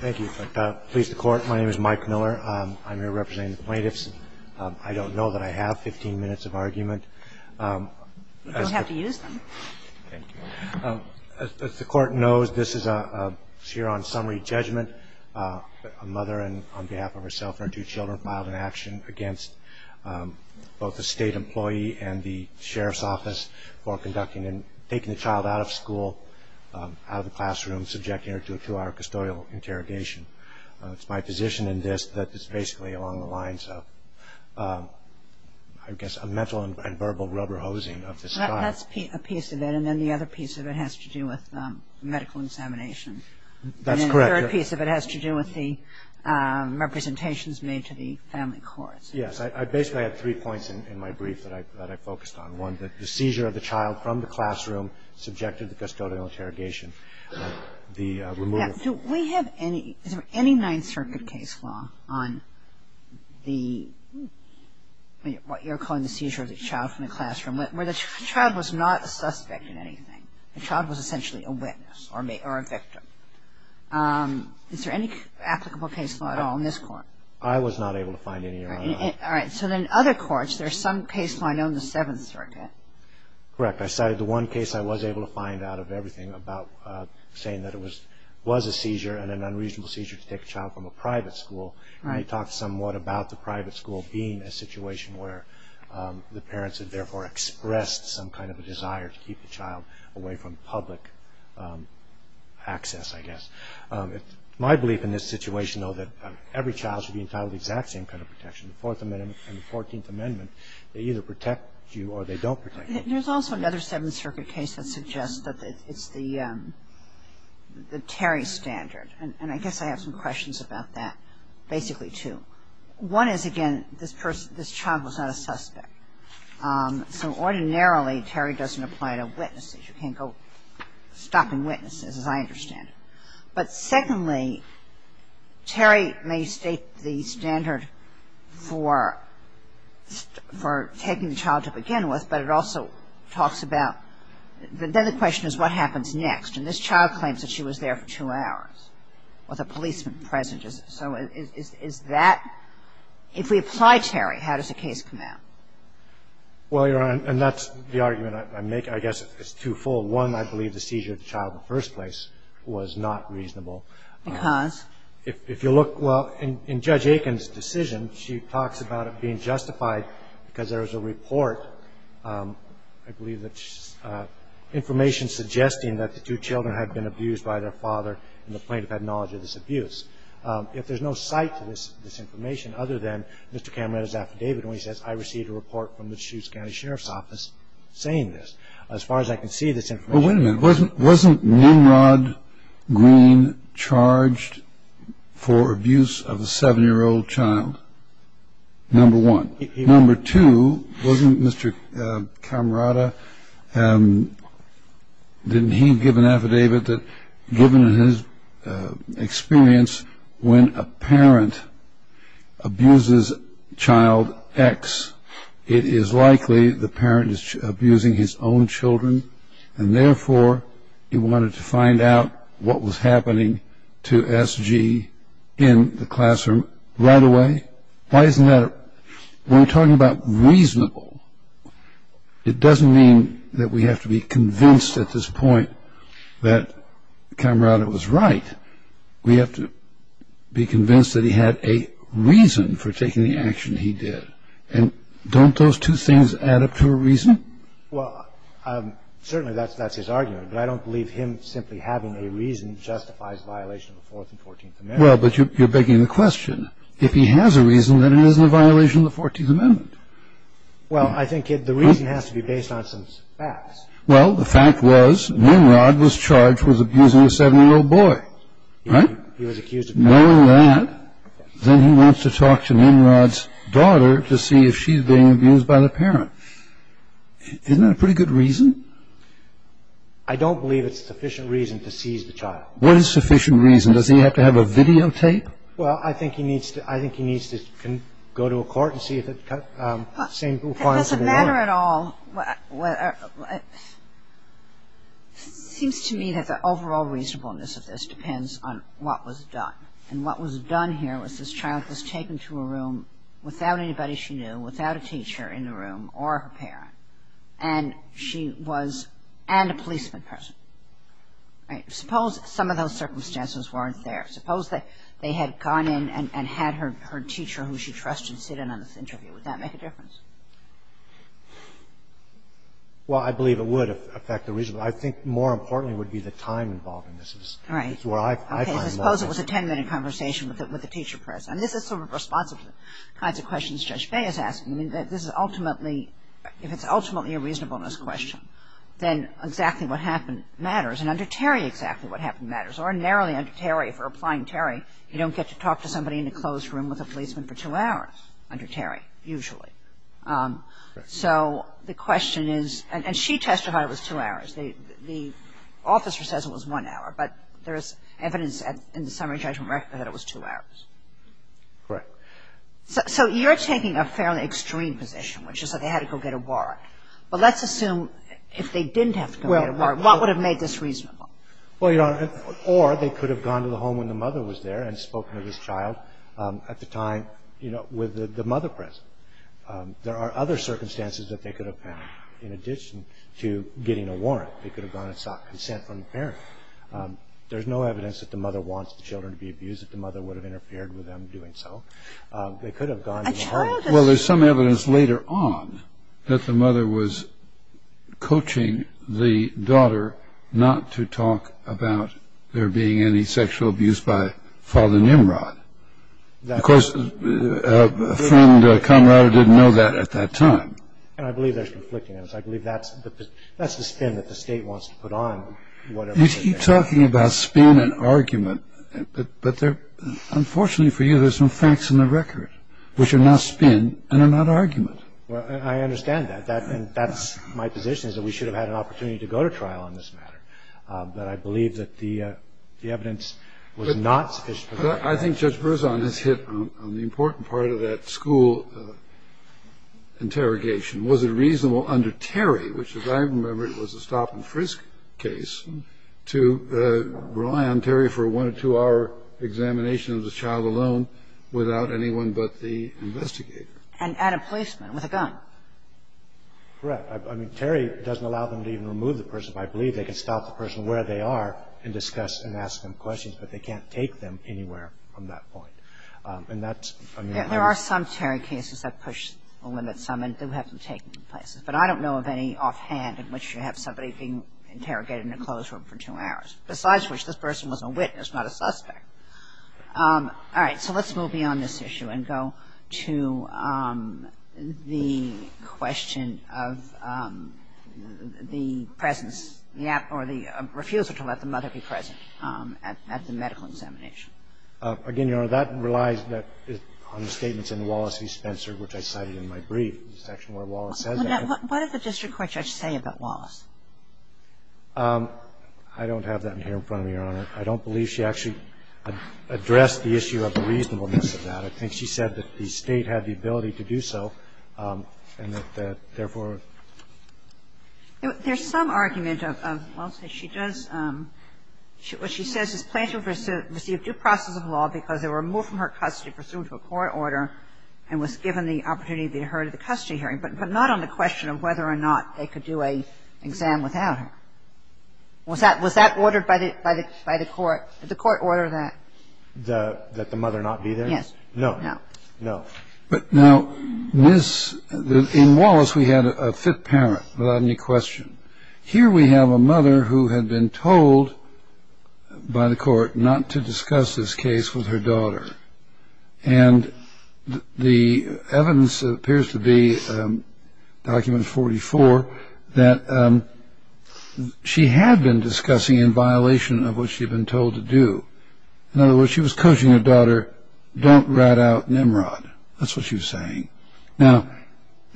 Thank you. Please, the Court. My name is Mike Miller. I'm here representing the plaintiffs. I don't know that I have 15 minutes of argument. You don't have to use them. Thank you. As the Court knows, this is a Sheeran summary judgment. A mother, on behalf of herself and her two children, filed an action against both the state employee and the sheriff's office for taking the child out of school, out of the classroom, subjecting her to a two-hour custodial interrogation. It's my position in this that it's basically along the lines of, I guess, a mental and verbal rubber hosing of this child. That's a piece of it, and then the other piece of it has to do with medical examination. That's correct. And then the third piece of it has to do with the representations made to the family courts. Yes. I basically had three points in my brief that I focused on. One, that the seizure of the child from the classroom subjected to custodial interrogation. The removal of the child. Do we have any, is there any Ninth Circuit case law on the, what you're calling the seizure of the child from the classroom, where the child was not a suspect in anything? The child was essentially a witness or a victim. Is there any applicable case law at all in this Court? I was not able to find any. All right. So then other courts, there's some case law I know in the Seventh Circuit. Correct. I cited the one case I was able to find out of everything about saying that it was a seizure and an unreasonable seizure to take a child from a private school. We talked somewhat about the private school being a situation where the parents had therefore expressed some kind of a desire to keep the child away from public access, I guess. My belief in this situation, though, that every child should be entitled to the exact same kind of protection, the Fourth Amendment and the Fourteenth Amendment. They either protect you or they don't protect you. There's also another Seventh Circuit case that suggests that it's the Terry standard. And I guess I have some questions about that, basically, too. One is, again, this child was not a suspect. So ordinarily, Terry doesn't apply to witnesses. You can't go stopping witnesses, as I understand it. But secondly, Terry may state the standard for taking the child to begin with, but it also talks about the other question is what happens next. And this child claims that she was there for two hours with a policeman present. So is that – if we apply Terry, how does the case come out? Well, Your Honor, and that's the argument I make. I guess it's twofold. One, I believe the seizure of the child in the first place was not reasonable. Because? If you look – well, in Judge Aiken's decision, she talks about it being justified because there is a report, I believe that's information suggesting that the two children had been abused by their father, and the plaintiff had knowledge of this abuse. If there's no cite to this information other than Mr. Cameron's affidavit where he says I received a report from the Chutes County Sheriff's Office saying Well, wait a minute. Wasn't Nimrod Green charged for abuse of a seven-year-old child, number one? Number two, wasn't Mr. Camerota – didn't he give an affidavit that given his experience when a parent abuses child X, it is likely the parent is abusing his own children, and therefore he wanted to find out what was happening to S.G. in the classroom right away? Why isn't that – when we're talking about reasonable, it doesn't mean that we have to be convinced at this point that Camerota was right. We have to be convinced that he had a reason for taking the action he did, and don't those two things add up to a reason? Well, certainly that's his argument, but I don't believe him simply having a reason justifies violation of the Fourth and Fourteenth Amendments. Well, but you're begging the question. If he has a reason, then it isn't a violation of the Fourteenth Amendment. Well, I think the reason has to be based on some facts. Well, the fact was Nimrod was charged with abusing a seven-year-old boy, right? He was accused of that. Knowing that, then he wants to talk to Nimrod's daughter to see if she's being abused by the parent. Isn't that a pretty good reason? I don't believe it's sufficient reason to seize the child. What is sufficient reason? Does he have to have a videotape? Well, I think he needs to – I think he needs to go to a court and see if it – It doesn't matter at all. It seems to me that the overall reasonableness of this depends on what was done. And what was done here was this child was taken to a room without anybody she knew, without a teacher in the room or her parent, and she was – and a policeman present. Suppose some of those circumstances weren't there. Suppose that they had gone in and had her teacher who she trusted sit in on this interview. Would that make a difference? Well, I believe it would affect the reasonableness. I think more importantly would be the time involved in this. Right. It's where I find most – Okay, so suppose it was a 10-minute conversation with a teacher present. I mean, this is sort of responsive to the kinds of questions Judge Bay is asking. I mean, this is ultimately – if it's ultimately a reasonableness question, then exactly what happened matters. And under Terry, exactly what happened matters. Ordinarily under Terry, if you're applying Terry, you don't get to talk to somebody in a closed room with a policeman for two hours under Terry, usually. So the question is – and she testified it was two hours. The officer says it was one hour, but there is evidence in the summary judgment record that it was two hours. Correct. So you're taking a fairly extreme position, which is that they had to go get a warrant. But let's assume if they didn't have to go get a warrant, what would have made this reasonable? Well, Your Honor, or they could have gone to the home when the mother was there and spoken to this child at the time with the mother present. There are other circumstances that they could have found in addition to getting a warrant. They could have gone and sought consent from the parent. There's no evidence that the mother wants the children to be abused, that the mother would have interfered with them doing so. They could have gone to the home. Well, there's some evidence later on that the mother was coaching the daughter not to talk about there being any sexual abuse by Father Nimrod. Of course, a friend, a comrade, didn't know that at that time. And I believe there's conflicting evidence. I believe that's the spin that the State wants to put on whatever they're saying. You keep talking about spin and argument, but unfortunately for you, there's some facts in the record which are not spin and are not argument. I understand that. That's my position, is that we should have had an opportunity to go to trial on this matter. But I believe that the evidence was not sufficient. I think Judge Berzon has hit on the important part of that school interrogation. Was it reasonable under Terry, which as I remember it was a stop-and-frisk case, to rely on Terry for a one- or two-hour examination of the child alone without anyone but the investigator? And a policeman with a gun. Correct. I mean, Terry doesn't allow them to even remove the person. I believe they can stop the person where they are and discuss and ask them questions, but they can't take them anywhere from that point. And that's, I mean, how do you say it? There are some Terry cases that push a limit. Some do have them taken to places. But I don't know of any offhand in which you have somebody being interrogated in a closed room for two hours, besides which this person was a witness, not a suspect. All right, so let's move beyond this issue and go to the question of the presence or the refusal to let the mother be present at the medical examination. Again, Your Honor, that relies on the statements in Wallace v. Spencer, which I cited in my brief, the section where Wallace says that. What does the district court judge say about Wallace? I don't have that in here in front of me, Your Honor. I don't believe she actually addressed the issue of the reasonableness of that. I think she said that the State had the ability to do so, and that therefore There's some argument of, I'll say she does, what she says is, Plaintiff received due process of law because they were removed from her custody, and she was given the opportunity to be heard at the custody hearing. But not on the question of whether or not they could do an exam without her. Was that ordered by the court? Did the court order that? That the mother not be there? Yes. No. No. No. But now, in Wallace, we had a fifth parent without any question. Here we have a mother who had been told by the court not to discuss this case with her daughter. And the evidence appears to be, document 44, that she had been discussing in violation of what she had been told to do. In other words, she was coaching her daughter, don't rat out Nimrod. That's what she was saying. Now,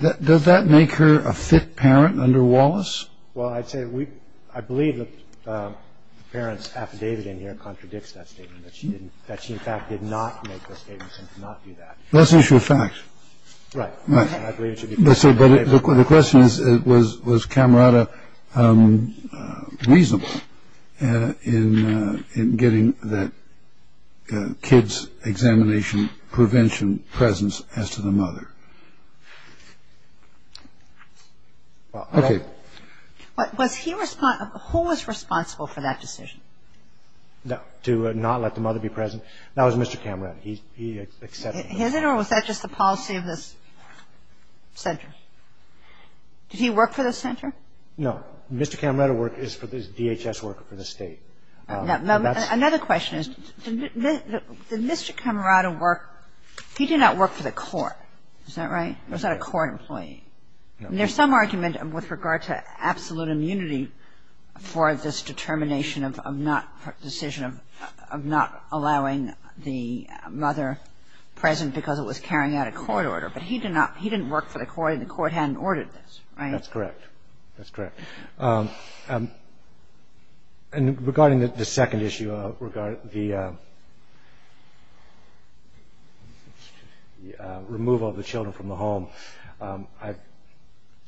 does that make her a fifth parent under Wallace? Well, I'd say we – I believe the parent's affidavit in here contradicts that statement, that she in fact did not make those statements and did not do that. Well, that's an issue of fact. Right. Right. And I believe it should be – But the question is, was Camerata reasonable in getting that kid's examination prevention presence as to the mother? Okay. Was he – who was responsible for that decision? To not let the mother be present? That was Mr. Camerata. He accepted it. His, or was that just the policy of this center? Did he work for this center? No. Mr. Camerata worked – is a DHS worker for the State. Another question is, did Mr. Camerata work – he did not work for the court. Is that right? Was that a court employee? No. And there's some argument with regard to absolute immunity for this determination of not – decision of not allowing the mother present because it was carrying out a court order. But he did not – he didn't work for the court, and the court hadn't ordered this. Right? That's correct. That's correct. And regarding the second issue, regarding the removal of the children from the home, I've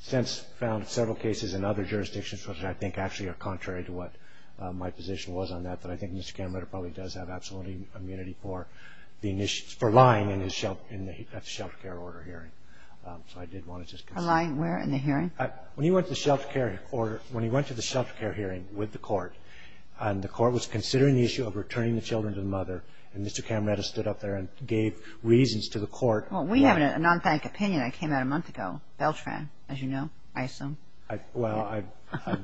since found several cases in other jurisdictions which I think actually are contrary to what my position was on that, but I think Mr. Camerata probably does have absolute immunity for lying in his – at the shelter care order hearing. So I did want to just – For lying where? In the hearing? When he went to the shelter care – or when he went to the shelter care hearing with the court, and the court was considering the issue of returning the children to the mother, and Mr. Camerata stood up there and gave reasons to the court. Well, we have a non-bank opinion that came out a month ago. Beltran, as you know, I assume. Well,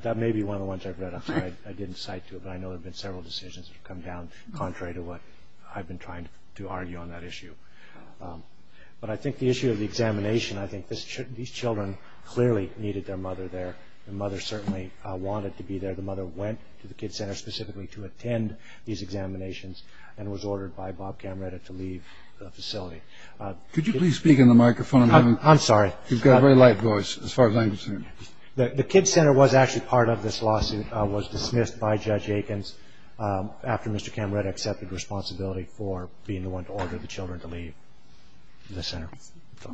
that may be one of the ones I've read. I didn't cite to it, but I know there have been several decisions that have come down contrary to what I've been trying to argue on that issue. But I think the issue of the examination, I think these children clearly needed their mother there. The mother certainly wanted to be there. The mother went to the kid center specifically to attend these examinations and was ordered by Bob Camerata to leave the facility. Could you please speak in the microphone? I'm sorry. You've got a very light voice as far as I'm concerned. The kid center was actually part of this lawsuit, was dismissed by Judge Aikens after Mr. Camerata accepted responsibility for being the one to order the children to leave the center. I see.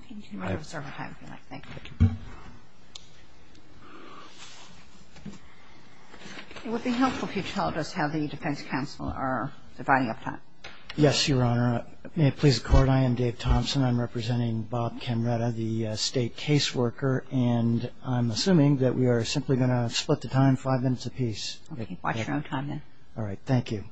You can reserve a time if you like. Thank you. It would be helpful if you told us how the defense counsel are dividing up time. Yes, Your Honor. May it please the Court, I am Dave Thompson. I'm representing Bob Camerata, the State caseworker, and I'm assuming that we are simply going to split the time five minutes apiece. Okay. Watch your own time then. All right. Thank you.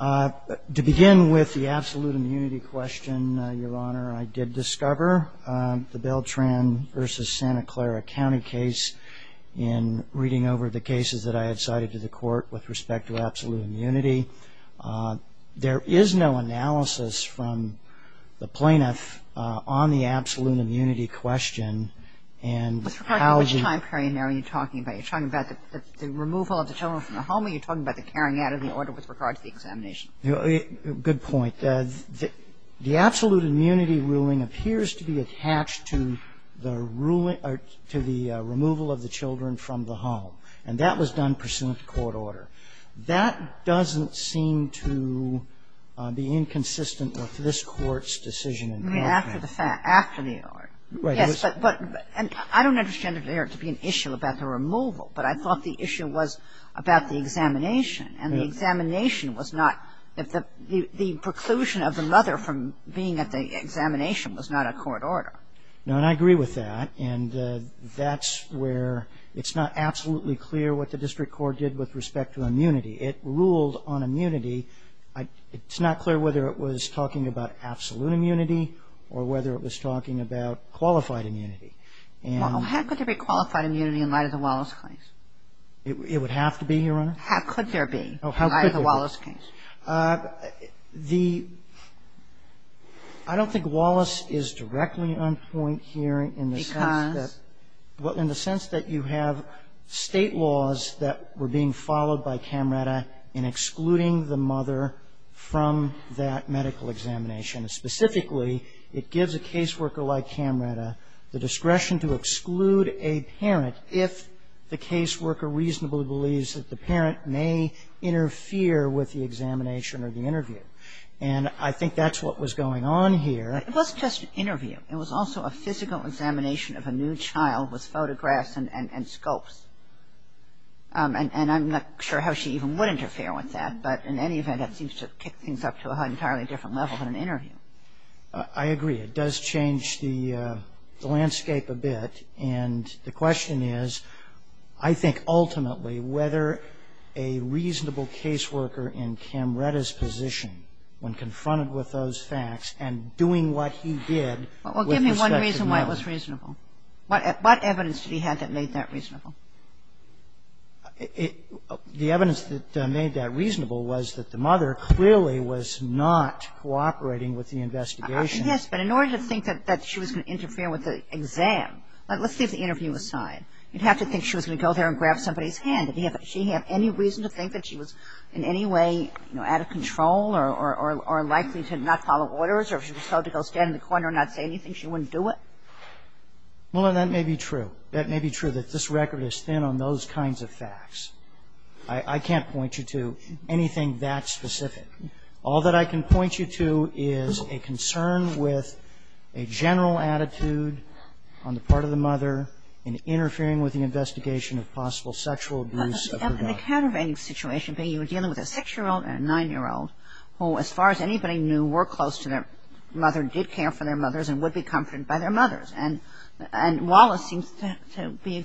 To begin with the absolute immunity question, Your Honor, I did discover the Beltran v. Santa Clara County case in reading over the cases that I had cited to the Court with respect to absolute immunity. There is no analysis from the plaintiff on the absolute immunity question. Mr. McCarthy, which time period are you talking about? Are you talking about the removal of the children from the home or are you talking about the carrying out of the order with regard to the examination? Good point. The absolute immunity ruling appears to be attached to the ruling or to the removal of the children from the home, and that was done pursuant to court order. That doesn't seem to be inconsistent with this Court's decision. I mean, after the fact, after the order. Right. Yes, but I don't understand it there to be an issue about the removal, but I thought the issue was about the examination, and the examination was not the preclusion of the mother from being at the examination was not a court order. No, and I agree with that, and that's where it's not absolutely clear what the district court did with respect to immunity. It ruled on immunity. It's not clear whether it was talking about absolute immunity or whether it was talking about qualified immunity. Well, how could there be qualified immunity in light of the Wallace case? It would have to be, Your Honor. How could there be in light of the Wallace case? The ‑‑ I don't think Wallace is directly on point here in the sense that ‑‑ Because? Well, in the sense that you have State laws that were being followed by Camretta in excluding the mother from that medical examination. Specifically, it gives a caseworker like Camretta the discretion to exclude a parent if the caseworker reasonably believes that the parent may interfere with the examination or the interview. And I think that's what was going on here. It wasn't just an interview. It was also a physical examination of a new child with photographs and scopes. And I'm not sure how she even would interfere with that, but in any event, that seems to kick things up to an entirely different level than an interview. I agree. It does change the landscape a bit. And the question is, I think ultimately whether a reasonable caseworker in Camretta's position when confronted with those facts and doing what he did with respect to the mother. Well, give me one reason why it was reasonable. What evidence did he have that made that reasonable? The evidence that made that reasonable was that the mother clearly was not cooperating with the investigation. Yes, but in order to think that she was going to interfere with the exam. Let's leave the interview aside. You'd have to think she was going to go there and grab somebody's hand. Did she have any reason to think that she was in any way, you know, out of control or likely to not follow orders or if she was told to go stand in the corner and not say anything, she wouldn't do it? Well, that may be true. That may be true that this record is thin on those kinds of facts. I can't point you to anything that specific. All that I can point you to is a concern with a general attitude on the part of the mother in interfering with the investigation of possible sexual abuse of her daughter. The countervailing situation being you were dealing with a 6-year-old and a 9-year-old who, as far as anybody knew, were close to their mother, did care for their mothers and would be comforted by their mothers. And Wallace seems to be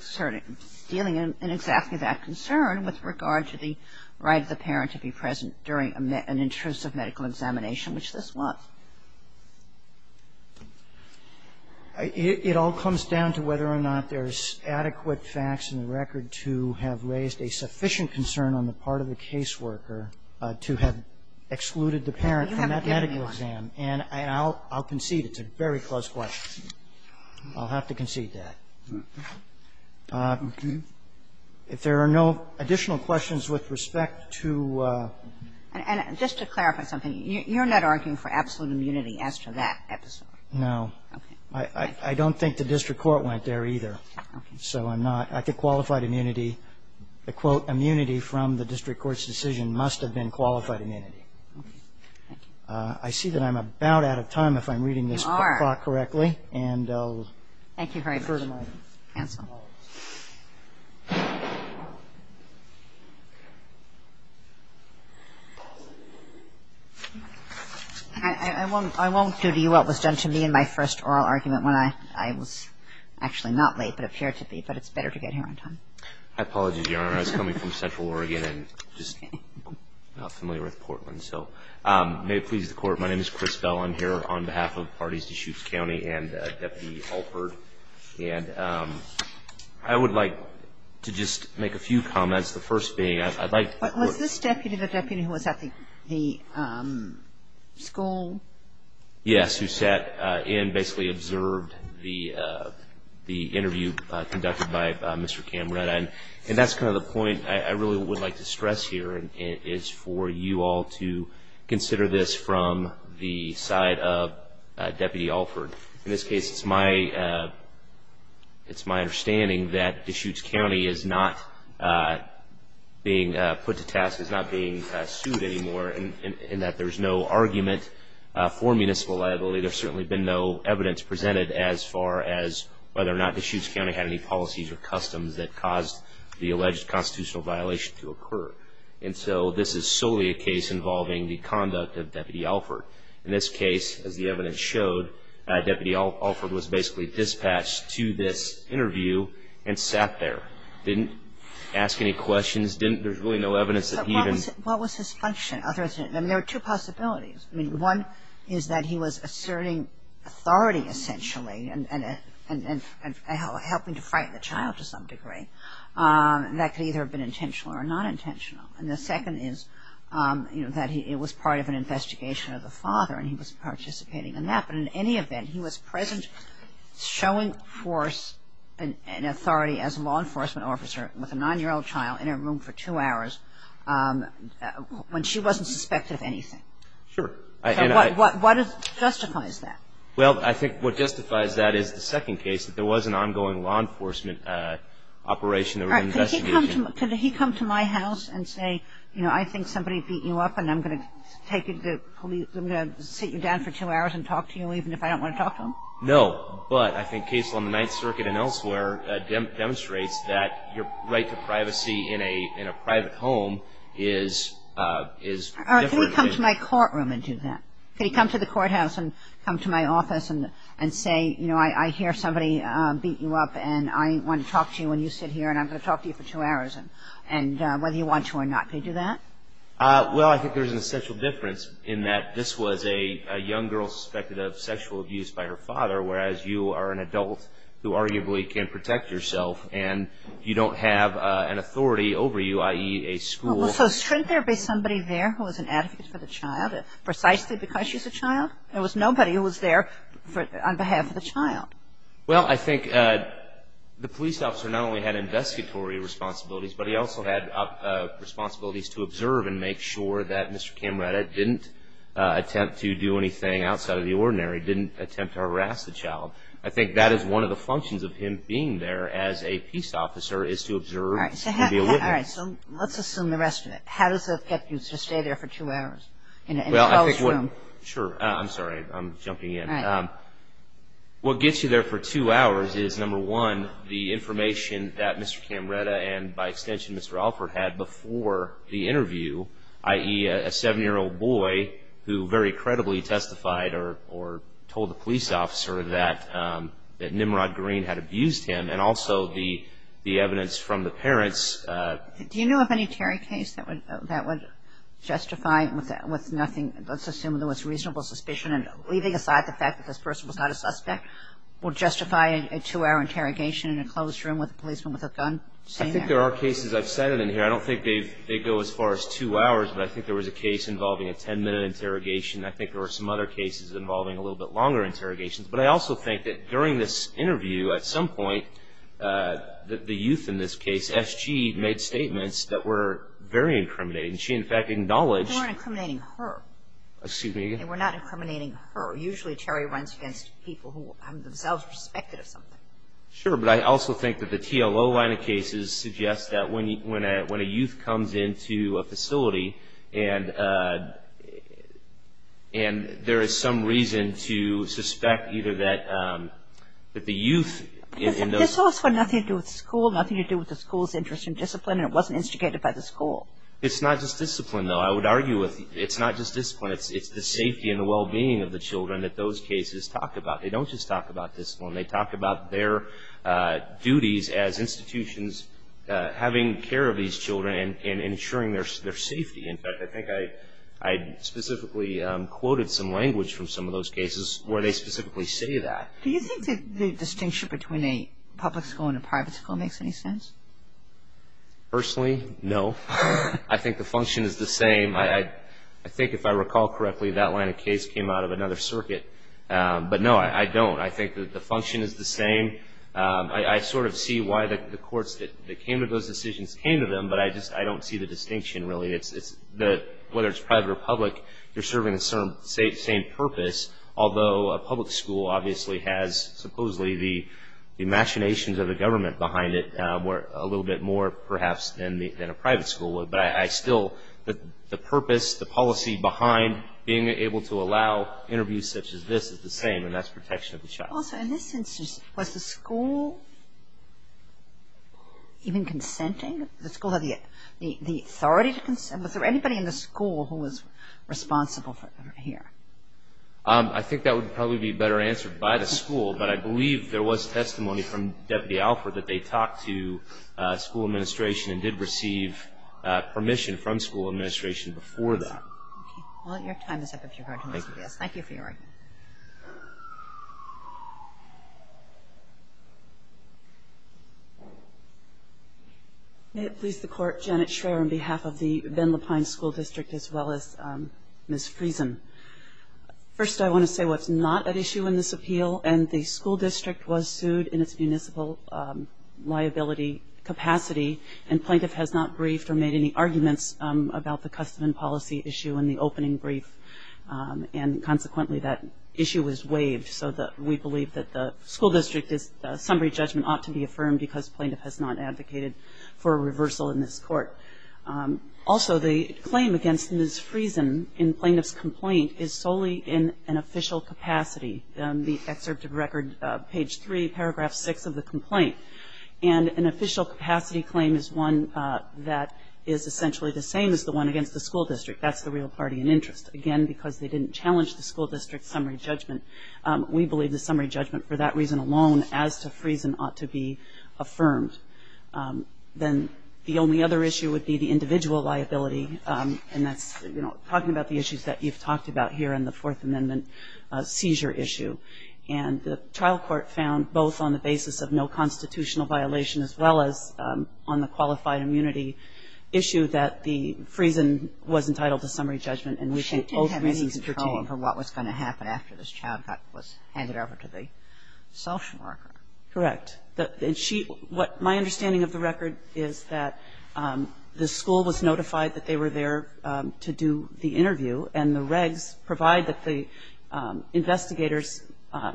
dealing in exactly that concern with regard to the right of the parent to be present during an intrusive medical examination, which this was. It all comes down to whether or not there's adequate facts in the record to have raised a sufficient concern on the part of the caseworker to have excluded the parent from that medical exam. And I'll concede it's a very close question. I'll have to concede that. If there are no additional questions with respect to ‑‑ And just to clarify something, you're not arguing for absolute immunity as to that episode? No. Okay. I don't think the district court went there either. So I'm not. I think qualified immunity, the quote, immunity from the district court's decision must have been qualified immunity. Okay. Thank you. I see that I'm about out of time if I'm reading this ‑‑ Thank you, Harry. I won't do to you what was done to me in my first oral argument when I was actually not late but appeared to be. But it's better to get here on time. My apologies, Your Honor. I was coming from central Oregon and just not familiar with Portland. So may it please the Court, my name is Chris Bell. I'm here on behalf of Parties Deschutes County and Deputy Alford. And I would like to just make a few comments. The first being I'd like ‑‑ Was this deputy the deputy who was at the school? Yes, who sat and basically observed the interview conducted by Mr. Camrata. And that's kind of the point I really would like to stress here and it is for you all to consider this from the side of Deputy Alford. In this case, it's my understanding that Deschutes County is not being put to task, is not being sued anymore in that there's no argument for municipal liability. There's certainly been no evidence presented as far as whether or not Deschutes County had any policies or customs that caused the alleged constitutional violation to occur. And so this is solely a case involving the conduct of Deputy Alford. In this case, as the evidence showed, Deputy Alford was basically dispatched to this interview and sat there. Didn't ask any questions. There's really no evidence that he even ‑‑ But what was his function? I mean, there were two possibilities. One is that he was asserting authority essentially and helping to frighten the child to some degree. That could either have been intentional or not intentional. And the second is that it was part of an investigation of the father and he was participating in that. But in any event, he was present showing force and authority as a law enforcement officer with a nine-year-old child in a room for two hours when she wasn't suspected of anything. Sure. So what justifies that? Well, I think what justifies that is the second case, that there was an ongoing law enforcement operation that was investigated. All right. Could he come to my house and say, you know, I think somebody beat you up and I'm going to take you to the police and I'm going to sit you down for two hours and talk to you even if I don't want to talk to them? No. But I think case on the Ninth Circuit and elsewhere demonstrates that your right to privacy in a private home is different. All right. Could he come to my courtroom and do that? Could he come to the courthouse and come to my office and say, you know, I hear somebody beat you up and I want to talk to you when you sit here and I'm going to talk to you for two hours whether you want to or not? Could he do that? Well, I think there's an essential difference in that this was a young girl suspected of sexual abuse by her father, whereas you are an adult who arguably can protect yourself and you don't have an authority over you, i.e., a school. Well, so shouldn't there be somebody there who was an advocate for the child, precisely because she's a child? There was nobody who was there on behalf of the child. Well, I think the police officer not only had investigatory responsibilities, but he also had responsibilities to observe and make sure that Mr. Camaretta didn't attempt to do anything outside of the ordinary, didn't attempt to harass the child. I think that is one of the functions of him being there as a peace officer is to observe and be a witness. All right, so let's assume the rest of it. How does it affect you to stay there for two hours in a closed room? Sure, I'm sorry, I'm jumping in. What gets you there for two hours is, number one, the information that Mr. Camaretta and by extension Mr. Alford had before the interview, i.e., a seven-year-old boy who very credibly testified or told the police officer that Nimrod Green had abused him and also the evidence from the parents. Do you know of any Terry case that would justify with nothing, let's assume there was reasonable suspicion, leaving aside the fact that this person was not a suspect, would justify a two-hour interrogation in a closed room with a policeman with a gun? I think there are cases. I've said it in here. I don't think they go as far as two hours, but I think there was a case involving a ten-minute interrogation. I think there were some other cases involving a little bit longer interrogations. But I also think that during this interview at some point the youth in this case, S.G., made statements that were very incriminating. She, in fact, acknowledged. They weren't incriminating her. Excuse me again? They were not incriminating her. Usually Terry runs against people who have themselves respected or something. Sure, but I also think that the TLO line of cases suggests that when a youth comes into a facility and there is some reason to suspect either that the youth in those. This also had nothing to do with school, nothing to do with the school's interest in discipline and it wasn't instigated by the school. It's not just discipline, though. I would argue it's not just discipline. It's the safety and the well-being of the children that those cases talk about. They don't just talk about discipline. They talk about their duties as institutions having care of these children and ensuring their safety. In fact, I think I specifically quoted some language from some of those cases where they specifically say that. Do you think the distinction between a public school and a private school makes any sense? Personally, no. I think the function is the same. I think if I recall correctly that line of case came out of another circuit. But, no, I don't. I think that the function is the same. I sort of see why the courts that came to those decisions came to them, but I just don't see the distinction, really. Whether it's private or public, they're serving the same purpose, although a public school obviously has supposedly the machinations of the government behind it a little bit more, perhaps, than a private school would. But I still, the purpose, the policy behind being able to allow interviews such as this is the same, and that's protection of the child. Also, in this instance, was the school even consenting? Did the school have the authority to consent? Was there anybody in the school who was responsible here? I think that would probably be better answered by the school, but I believe there was testimony from Deputy Alford that they talked to school administration and did receive permission from school administration before that. Well, your time is up if you're going to listen to this. Thank you for your argument. May it please the Court, Janet Schreier on behalf of the Ben Lapine School District as well as Ms. Friesen. First, I want to say what's not at issue in this appeal, and the school district was sued in its municipal liability capacity, and plaintiff has not briefed or made any arguments about the custom and policy issue in the opening brief. And consequently, that issue was waived, so we believe that the school district's summary judgment ought to be affirmed because plaintiff has not advocated for a reversal in this court. Also, the claim against Ms. Friesen in plaintiff's complaint is solely in an official capacity. The excerpt of record, page 3, paragraph 6 of the complaint, and an official capacity claim is one that is essentially the same as the one against the school district. That's the real party in interest, again, because they didn't challenge the school district's summary judgment. We believe the summary judgment for that reason alone as to Friesen ought to be affirmed. Then the only other issue would be the individual liability, and that's talking about the issues that you've talked about here in the Fourth Amendment seizure issue. And the trial court found both on the basis of no constitutional violation as well as on the qualified immunity issue that the Friesen was entitled to summary judgment. And we think both reasons pertain. She didn't have any control over what was going to happen after this child was handed over to the social worker. Correct. And she – what my understanding of the record is that the school was notified that they were there to do the interview, and the regs provide that the investigators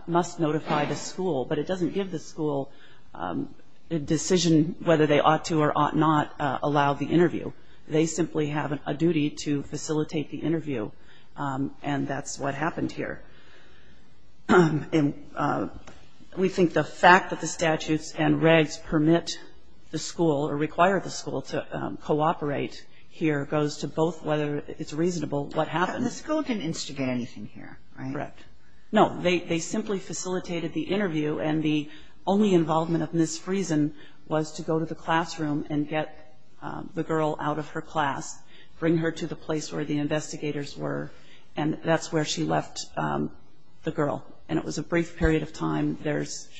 must notify the school, but it doesn't give the school a decision whether they ought to or ought not allow the interview. They simply have a duty to facilitate the interview, and that's what happened here. And we think the fact that the statutes and regs permit the school or require the school to cooperate here goes to both whether it's reasonable what happened. The school didn't instigate anything here, right? Correct. No. They simply facilitated the interview, and the only involvement of Ms. Friesen was to go to the classroom and get the girl out of her class, bring her to the place where the investigators were, and that's where she left the girl. And it was a brief period of time.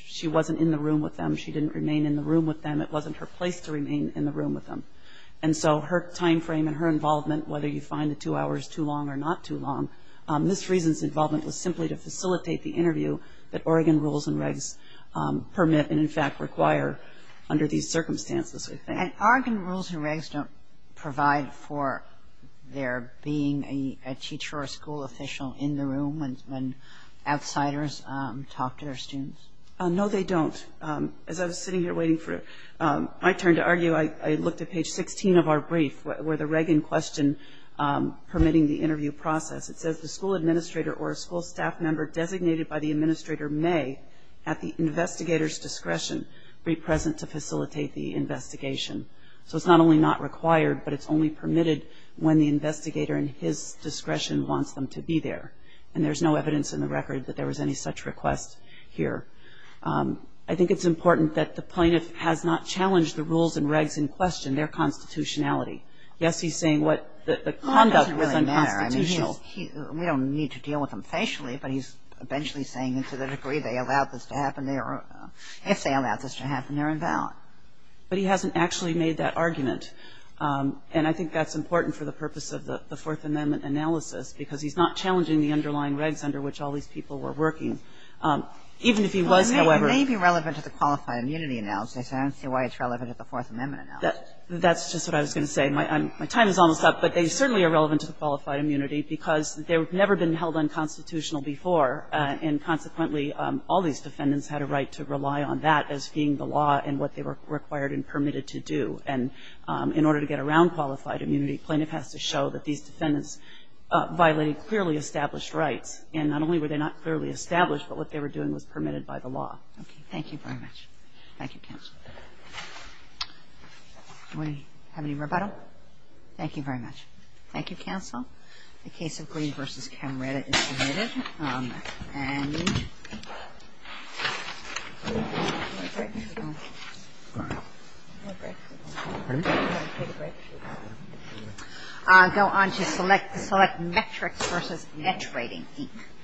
She wasn't in the room with them. She didn't remain in the room with them. It wasn't her place to remain in the room with them. And so her timeframe and her involvement, whether you find the two hours too long or not too long, Ms. Friesen's involvement was simply to facilitate the interview that Oregon rules and regs permit and, in fact, require under these circumstances, I think. And Oregon rules and regs don't provide for there being a teacher or a school official in the room when outsiders talk to their students? No, they don't. As I was sitting here waiting for my turn to argue, I looked at page 16 of our brief where the reg in question permitting the interview process. It says, The school administrator or a school staff member designated by the administrator may, at the investigator's discretion, be present to facilitate the investigation. So it's not only not required, but it's only permitted when the investigator in his discretion wants them to be there. And there's no evidence in the record that there was any such request here. I think it's important that the plaintiff has not challenged the rules and regs in question, their constitutionality. Yes, he's saying what the conduct was unconstitutional. Well, it doesn't really matter. I mean, we don't need to deal with them facially, but he's eventually saying to the degree they allowed this to happen, if they allowed this to happen, they're invalid. But he hasn't actually made that argument. And I think that's important for the purpose of the Fourth Amendment analysis because he's not challenging the underlying regs under which all these people were working. Even if he was, however. Well, it may be relevant to the Qualified Immunity Analysis. I don't see why it's relevant to the Fourth Amendment analysis. That's just what I was going to say. My time is almost up. But they certainly are relevant to the Qualified Immunity because they've never been held unconstitutional before. And consequently, all these defendants had a right to rely on that as being the law and what they were required and permitted to do. And in order to get around Qualified Immunity, plaintiff has to show that these defendants violated clearly established rights. And not only were they not clearly established, but what they were doing was permitted by the law. Thank you very much. Thank you, counsel. Do we have any rebuttal? Thank you very much. Thank you, counsel. The case of Green v. Camreta is submitted. And I'll go on to select metrics versus etch rating.